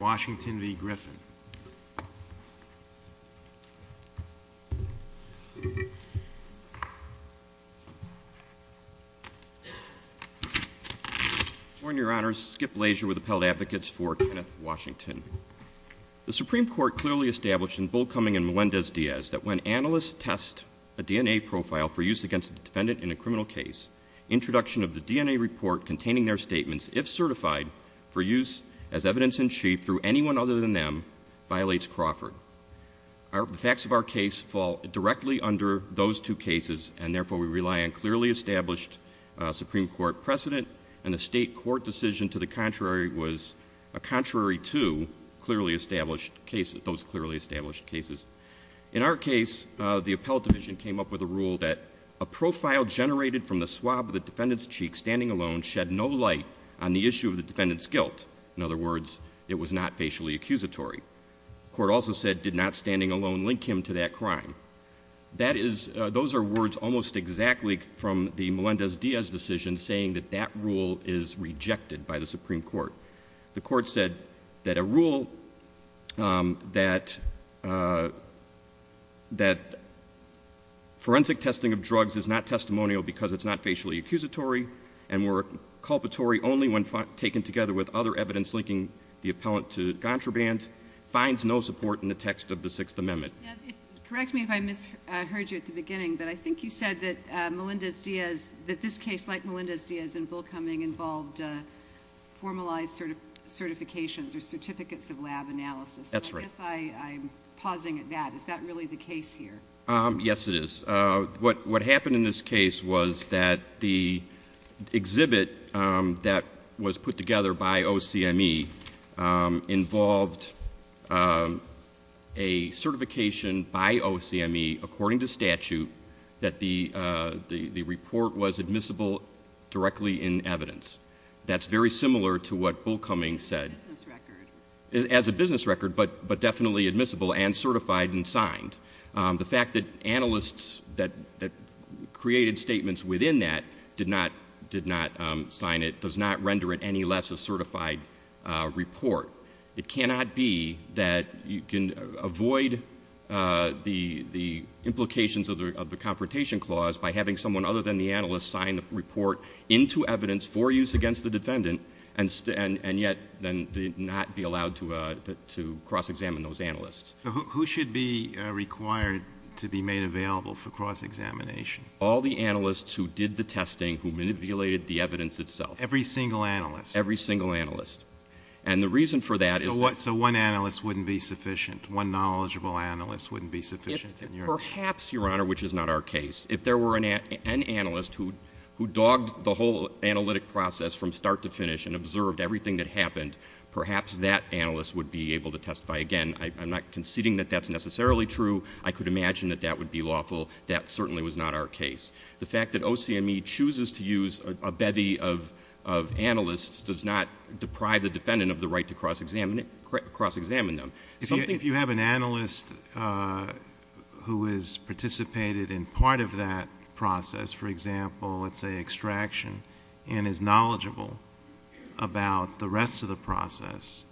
The Supreme Court clearly established in Bullcumming and Melendez-Diaz that when analysts test a DNA profile for use against a defendant in a criminal case, introduction of the DNA report containing their statements, if certified, for use as evidence in chief through anyone other than them, violates Crawford. The facts of our case fall directly under those two cases and therefore we rely on clearly established Supreme Court precedent and the state court decision to the contrary was a contrary to those clearly established cases. In our case, the Appellate Division came up with a rule that a profile generated from the swab of a DNA sample, was not classified as a DNA sample. The court also said it did not stand alone link him to that crime. That is, those are words almost exactly from the Melendez-Diaz decision saying that rule is rejected by the Supreme Court. The court said that a rule that forensic testing of drugs is not testimonial because it is not facially accusatory and were culpatory only when taken together with other evidence linking the appellant to contraband, finds no support in the text of the Sixth Amendment. Justice O'Connor Correct me if I misheard you at the beginning, but I think you said that Melendez-Diaz, that this case like Melendez-Diaz and Bullcumming involved formalized certifications or certificates of lab analysis. Judge Goldberg That's right. Justice O'Connor I guess I'm pausing at that. Is that really the case here? Judge Goldberg Yes, it is. What happened in this case was that the exhibit that was put together by OCME involved a certification by OCME according to statute that the report was admissible directly in evidence. That's very similar to what Bullcumming said as a business record, but definitely admissible and certified and signed. The fact that analysts that created statements within that did not sign it does not render it any less a certified report. It cannot be that you can avoid the implications of the Confrontation Clause by having someone other than the analyst sign the report into evidence for use against the defendant and yet then not be allowed to cross-examine those Justice Sotomayor Who should be required to be made available for cross-examination? Judge Goldberg All the analysts who did the testing, who manipulated the evidence itself. Justice Sotomayor Every single analyst? Judge Goldberg Every single analyst. And the reason for that is that Justice Sotomayor So what, so one analyst wouldn't be sufficient? One knowledgeable analyst wouldn't be sufficient? Judge Goldberg Perhaps, Your Honor, which is not our case. If there were an analyst who dogged the whole analytic process from start to finish and observed everything that happened, perhaps that analyst would be able to testify again. I'm not conceding that that's necessarily true. I could imagine that that would be lawful. That certainly was not our case. The fact that OCME chooses to use a bevy of analysts does not deprive the defendant of the right to cross-examine them. Justice Sotomayor If you have an analyst who has participated in part of that process, for example, let's say extraction, and is knowledgeable about the rest of the process,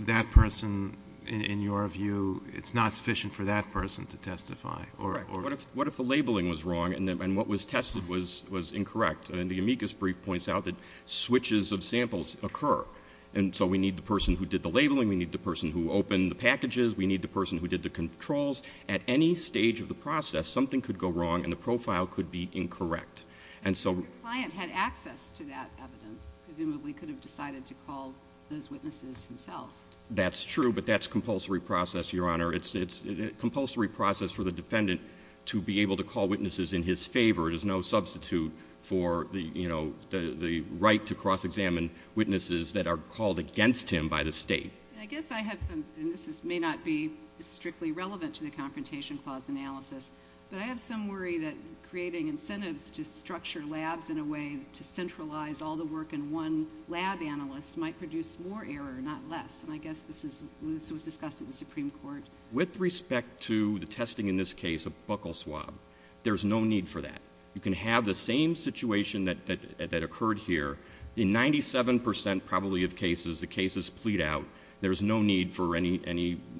that person, in your view, it's not sufficient for that person to testify? Judge Goldberg What if the labeling was wrong and what was tested was incorrect? And the amicus brief points out that switches of samples occur. And so we need the person who did the labeling, we need the person who opened the packages, we need the person who did the controls. At any stage of the process, something could go wrong and the profile could be incorrect. Justice Sotomayor Your client had access to that evidence. Presumably he could have decided to call those witnesses himself. Judge Goldberg That's true, but that's compulsory process, Your Honor. It's a compulsory process for the defendant to be able to call witnesses in his favor. It is no substitute for the right to cross-examine witnesses that are called against him by the state. Justice O'Connor I guess I have some, and this may not be strictly relevant to the Confrontation Clause analysis, but I have some worry that creating incentives to structure labs in a way to centralize all the work in one lab analyst might produce more error, not less. And I guess this was discussed at the Supreme Court. Judge Goldberg With respect to the testing in this case, a buckle swab, there's no need for that. You can have the same situation that occurred here in 97 percent probably of cases, the cases plead out, there's no need for any,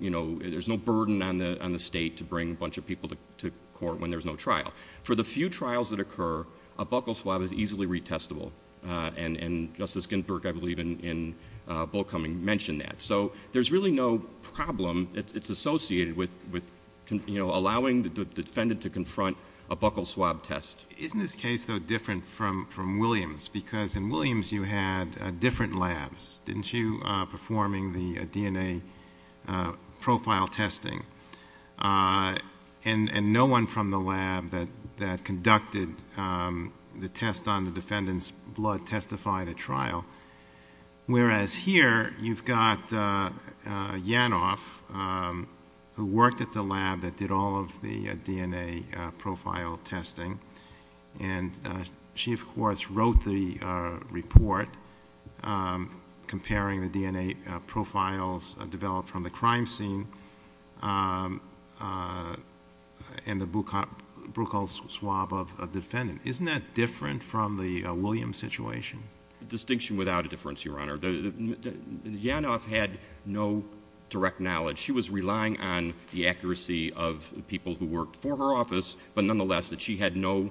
you know, there's no burden on the state to bring a bunch of people to court when there's no trial. For the few trials that occur, a buckle swab is easily retestable. And Justice Ginsburg, I believe, in Bulkhoming mentioned that. So there's really no problem. It's associated with, you know, allowing the defendant to confront a buckle swab test. Judge Goldberg Isn't this case, though, different from Williams because in Williams you had different labs, didn't you, performing the DNA profile testing? And no one from the lab that conducted the test on the defendant's blood testified at trial. Whereas here you've got Yanov who worked at the lab that did all of the DNA profile testing. And she, of course, wrote the report comparing the DNA profiles developed from the crime scene and the buckle swab of the defendant. Isn't that different from the Williams situation? Justice Breyer Distinction without a difference, Your Honor. Yanov had no direct knowledge. She was relying on the accuracy of people who worked for her office, but nonetheless that she had no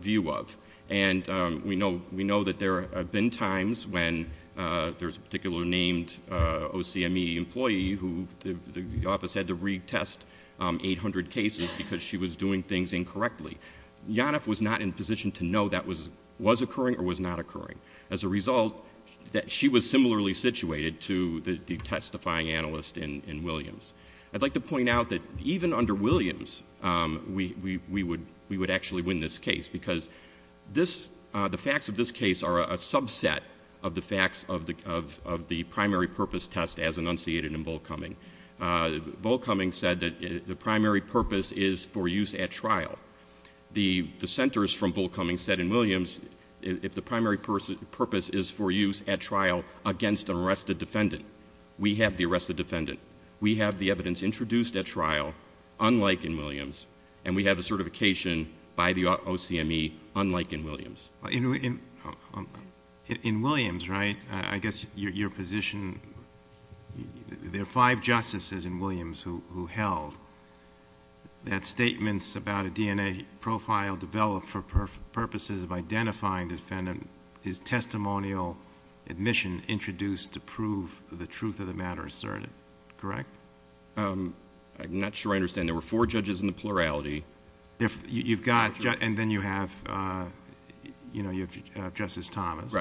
view of. And we know that there have been times when there's a particular named OCME employee who the office had to retest 800 cases because she was doing things incorrectly. Yanov was not in a position to know that was occurring or was not occurring. As a result, she was similarly situated to the testifying analyst in Williams. I'd like to point out that even under Williams, we would actually win this case because the facts of this case are a subset of the facts of the primary purpose test as enunciated in Volkoming. Volkoming said that the primary purpose is for use at trial. The dissenters from Volkoming said in Williams, if the primary purpose is for use at trial against an arrested defendant, we have the arrested defendant. We have the evidence introduced at trial, unlike in Williams, and we have the certification by the OCME, unlike in Williams. In Williams, right? I guess your position... there are five justices in Williams who held that statements about a DNA profile developed for purposes of identifying the defendant is testimonial admission introduced to prove the truth of the matter asserted, correct? I'm not sure I understand. There were four judges in the plurality. You've got... and then you have Justice Thomas.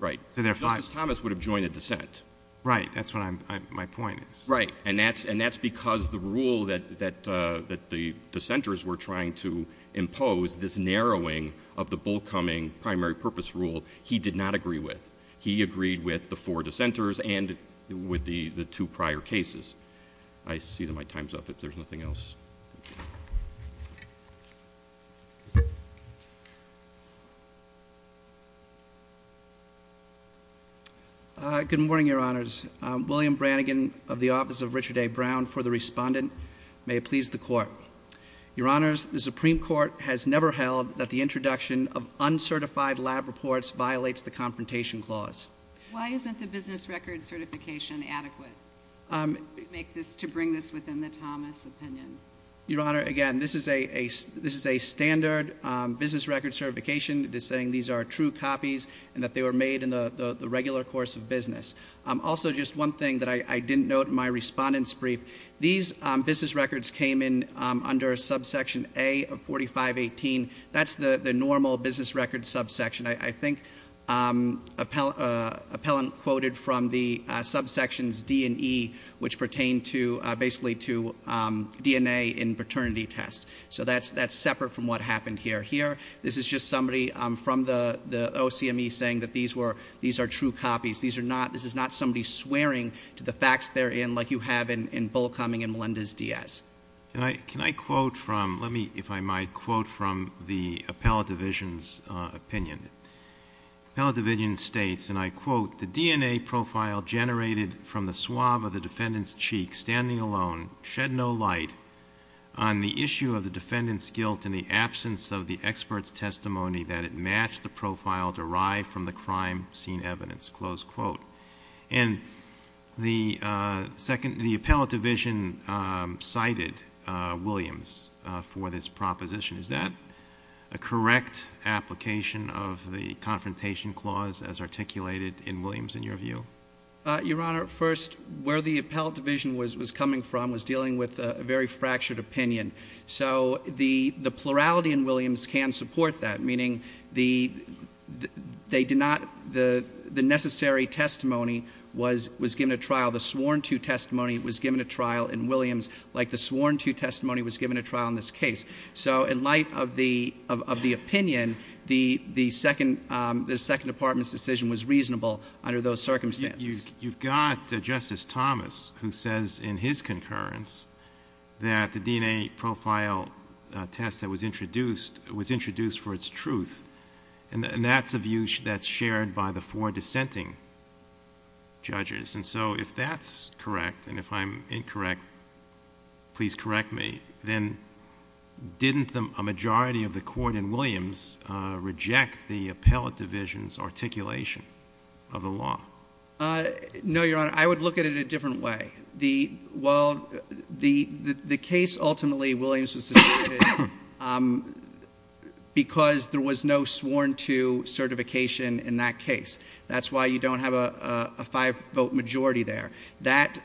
Right. So there are five. Justice Thomas would have joined the dissent. Right. That's what my point is. Right. And that's because the rule that the dissenters were trying to impose, this narrowing of the Volkoming primary purpose rule, he did not agree with. He agreed with the four dissenters and with the two prior cases. I see that my time's up, if there's nothing else. Good morning, Your Honors. William Brannigan of the Office of Richard A. Brown, for the Respondent. May it please the Court. Your Honors, the Supreme Court has never held that the introduction of uncertified lab reports violates the Confrontation Clause. Why isn't the business record certification adequate to bring this within the Thomas opinion? Your Honor, again, this is a standard business record certification. It is saying these are true copies and that they were made in the regular course of business. Also, just one thing that I didn't note in my Respondent's brief, these business records came in under subsection A of 4518. That's the normal business record subsection. I think an appellant quoted from the subsections D and E, which pertain to DNA in paternity tests. That's separate from what happened here. Here, this is just somebody from the OCME saying that these are true copies. This is not somebody swearing to the facts they're in like you have in Volkoming and Melendez-Diaz. Can I quote from the appellate division's opinion? The appellate division states, and the second... the appellate division cited Williams for this proposition. Is that a correct application of the confrontation clause as articulated in Williams, in your view? Your Honor, first, where the appellate division was coming from was dealing with a very fractured opinion. The plurality in Williams can support that, meaning the necessary testimony was given a trial. The sworn to testimony was given a trial in Williams like the sworn to testimony. The second department's decision was reasonable under those circumstances. You've got Justice Thomas, who says in his concurrence that the DNA profile test that was introduced was introduced for its truth. That's a view that's shared by the four dissenting judges. If that's correct, and if I'm incorrect, please correct me, then didn't a majority of the court in Williams reject the appellate division's articulation of the law? No, Your Honor. I would look at it a different way. The case ultimately, Williams was suspected because there was no sworn to certification in that case. That's why you don't have a five-vote majority there. That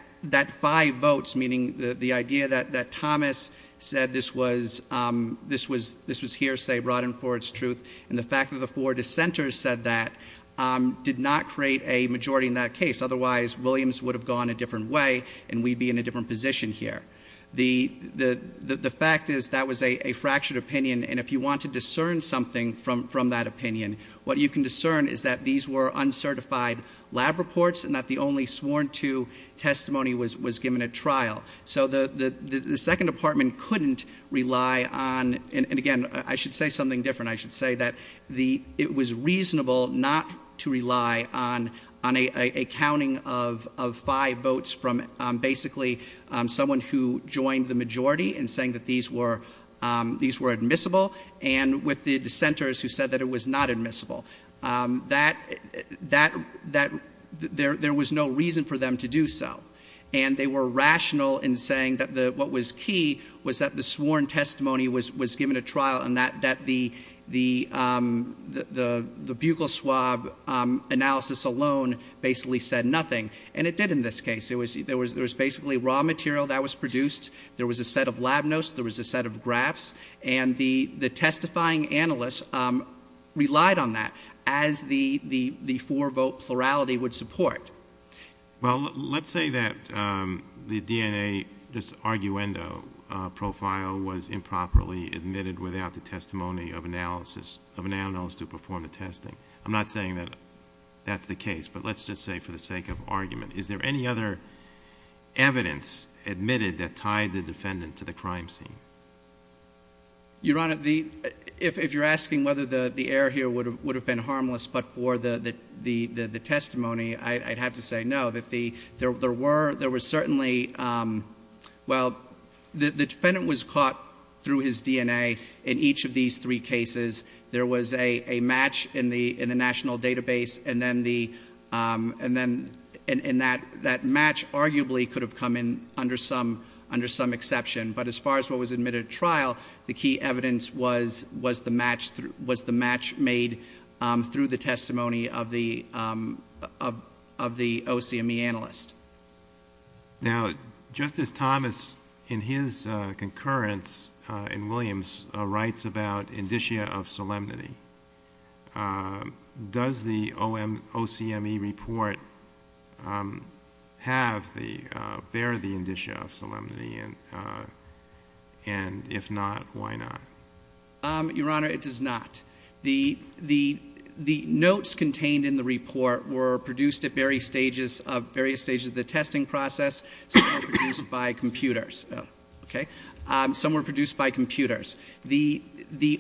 five votes, meaning the idea that Thomas said this was hearsay brought in for its truth, and the fact that the four dissenters said that did not create a majority in that case. Otherwise, Williams would have gone a different way and we'd be in a different position here. The fact is that was a fractured opinion, and if you want to discern something from that opinion, what you can discern is that these were uncertified lab reports and that the only sworn to testimony was given a trial. So the second department couldn't rely on, and again, I should say something different. I should say that it was reasonable not to rely on a counting of five votes from basically someone who joined the majority in saying that these were admissible, and with the dissenters who said that it was not admissible. There was no reason for them to do so, and they were rational in saying that what was key was that the sworn testimony was given a trial and that the bugle swab analysis alone basically said nothing, and it did in this case. There was basically raw material that was produced. There was a set of lab notes. There was a set of graphs, and the testifying analysts relied on that as the four-vote plurality would support. Well, let's say that the DNA, this arguendo profile, was improperly admitted without the testimony of an analyst to perform the testing. I'm not saying that that's the case, but let's just say for the sake of argument, is there any other evidence admitted that tied the defendant to the crime scene? Your Honor, if you're asking whether the error here would have been harmless but for the sake of argument, I have to say no, that there were certainly, well, the defendant was caught through his DNA in each of these three cases. There was a match in the national database, and then that match arguably could have come in under some exception, but as far as what was admitted at trial, the key evidence was the match made through the testimony of the OCME analyst. Now, Justice Thomas, in his concurrence in Williams, writes about indicia of solemnity. Does the OCME report bear the indicia of solemnity, and if not, why not? Your Honor, it does not. The notes contained in the report were produced at various stages of the testing process, some were produced by computers. The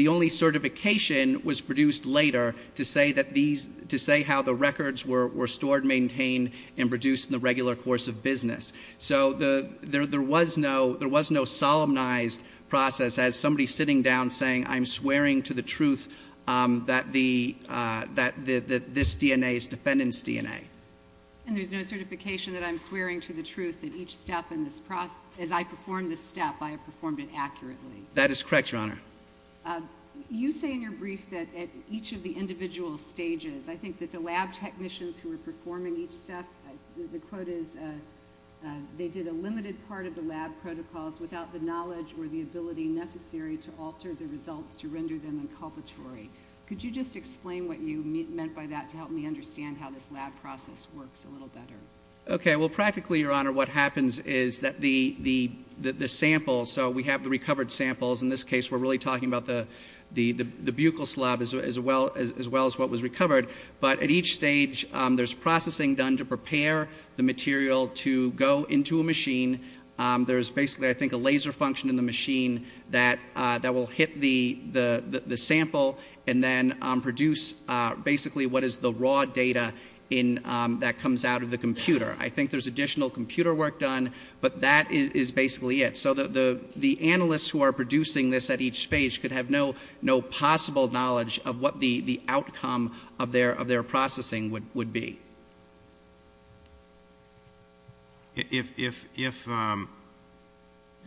only certification was produced later to say how the records were stored, maintained, and produced in the regular course of business. So there was no solemnized process as somebody sitting down saying, I'm swearing to the truth that this DNA is defendant's DNA. And there's no certification that I'm swearing to the truth that each step in this process, as I performed this step, I performed it accurately? That is correct, Your Honor. You say in your brief that at each of the individual stages, I think that the lab technicians who were performing each step, the quote is, they did a limited part of the lab protocols without the knowledge or the ability necessary to alter the results to render them inculpatory. Could you just explain what you meant by that to help me understand how this lab process works a little better? Okay. Well, practically, Your Honor, what happens is that the sample, so we have the recovered samples. In this case, we're really talking about the buccal slab as well as what was recovered. But at each stage, there's processing done to prepare the material to go into a machine. There's basically, I think, a laser function in the machine that will hit the sample and then produce basically what is the raw data that comes out of the computer. I think there's additional computer work done, but that is basically it. So the analysts who are producing this at each stage could have no possible knowledge of what the outcome of their processing would be. It's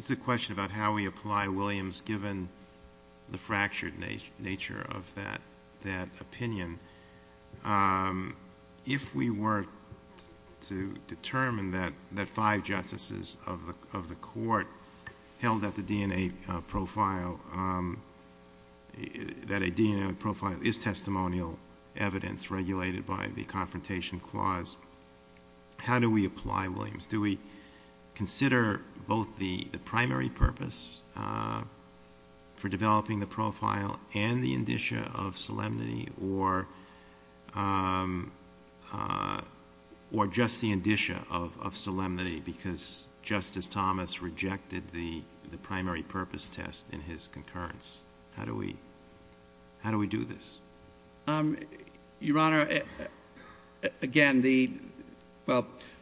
a question about how we apply Williams given the fractured nature of that opinion. If we were to determine that five justices of the court held that the DNA profile is testimonial evidence regulated by the Confrontation Clause, how do we apply Williams? Do we consider both the primary purpose for developing the profile and the indicia of solemnity or just the indicia of solemnity because Justice Thomas rejected the primary purpose test in his concurrence? How do we do this? Your Honor, again,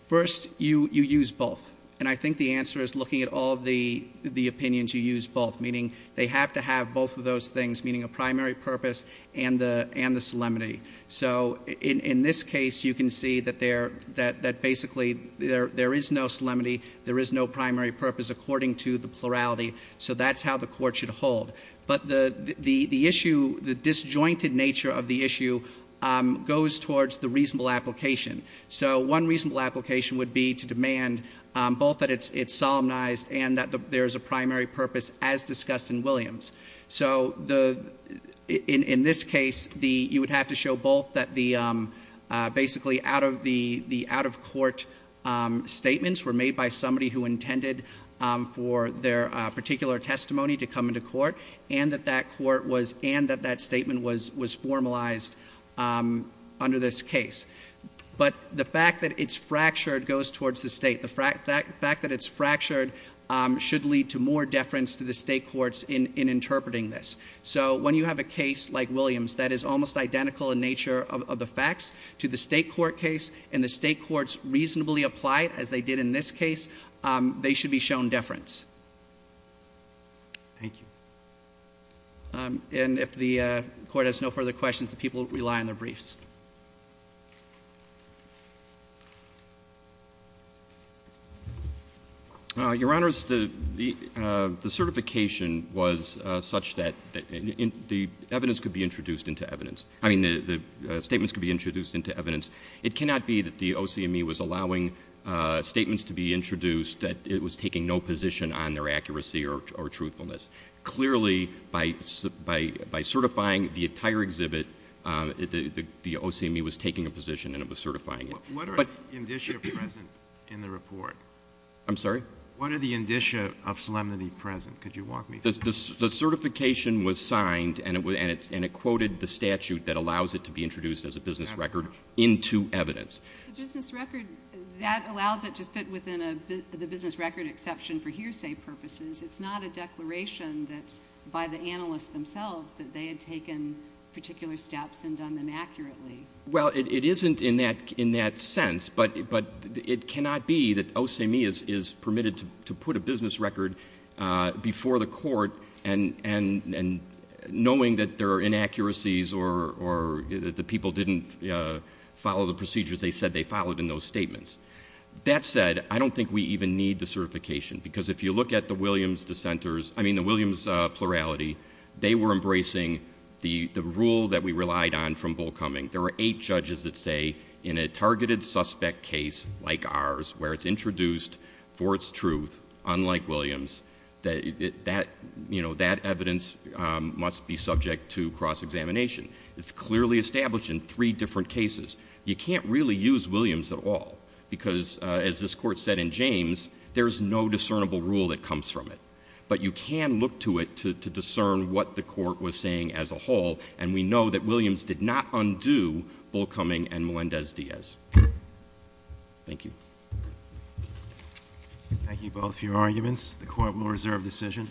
first you use both. And I think the answer is looking at all the opinions you use both, meaning they have to have both of those things, meaning a primary purpose and the solemnity. So in this case, you can see that basically there is no solemnity, there is no primary purpose according to the plurality. So that's how the court should determine the nature of the issue goes towards the reasonable application. So one reasonable application would be to demand both that it's solemnized and that there is a primary purpose as discussed in Williams. So in this case, you would have to show both that the basically out-of-court statements were made by somebody who intended for their particular testimony to come into court and that that statement was formalized under this case. But the fact that it's fractured goes towards the state. The fact that it's fractured should lead to more deference to the state courts in interpreting this. So when you have a case like Williams that is almost identical in nature of the facts to the state court case and the state Thank you. And if the court has no further questions, the people rely on their briefs. Your Honors, the certification was such that the evidence could be introduced into evidence — I mean the statements could be introduced into evidence. It cannot be that the OCME was allowing statements to be introduced that it was taking no position on their accuracy or truthfulness. Clearly, by certifying the entire exhibit, the OCME was taking a position and it was certifying it. What are the indicia present in the report? I'm sorry? What are the indicia of solemnity present? Could you walk me through that? The certification was signed and it quoted the statute that allows it to be introduced as a business record into evidence. The business record, that allows it to fit within the business record exception for hearsay purposes. It's not a declaration that by the analysts themselves that they had taken particular steps and done them accurately. Well it isn't in that sense, but it cannot be that OCME is permitted to put a business record before the court and knowing that there are inaccuracies or that the people didn't follow the procedures they said they followed in those statements. That said, I don't think we even need the certification because if you look at the Williams plurality, they were embracing the rule that we relied on from Bull Cumming. There were eight judges that say in a targeted suspect case like ours where it's introduced for its truth, unlike Williams, that evidence must be subject to cross-examination. It's clearly established in three different cases. You can't really use Williams at all because as this court said in James, there's no discernible rule that comes from it. But you can look to it to discern what the court was saying as a whole and we know that Williams did not undo Bull Cumming and Melendez-Diaz. Thank you. Thank you both for your arguments. The court will reserve decision.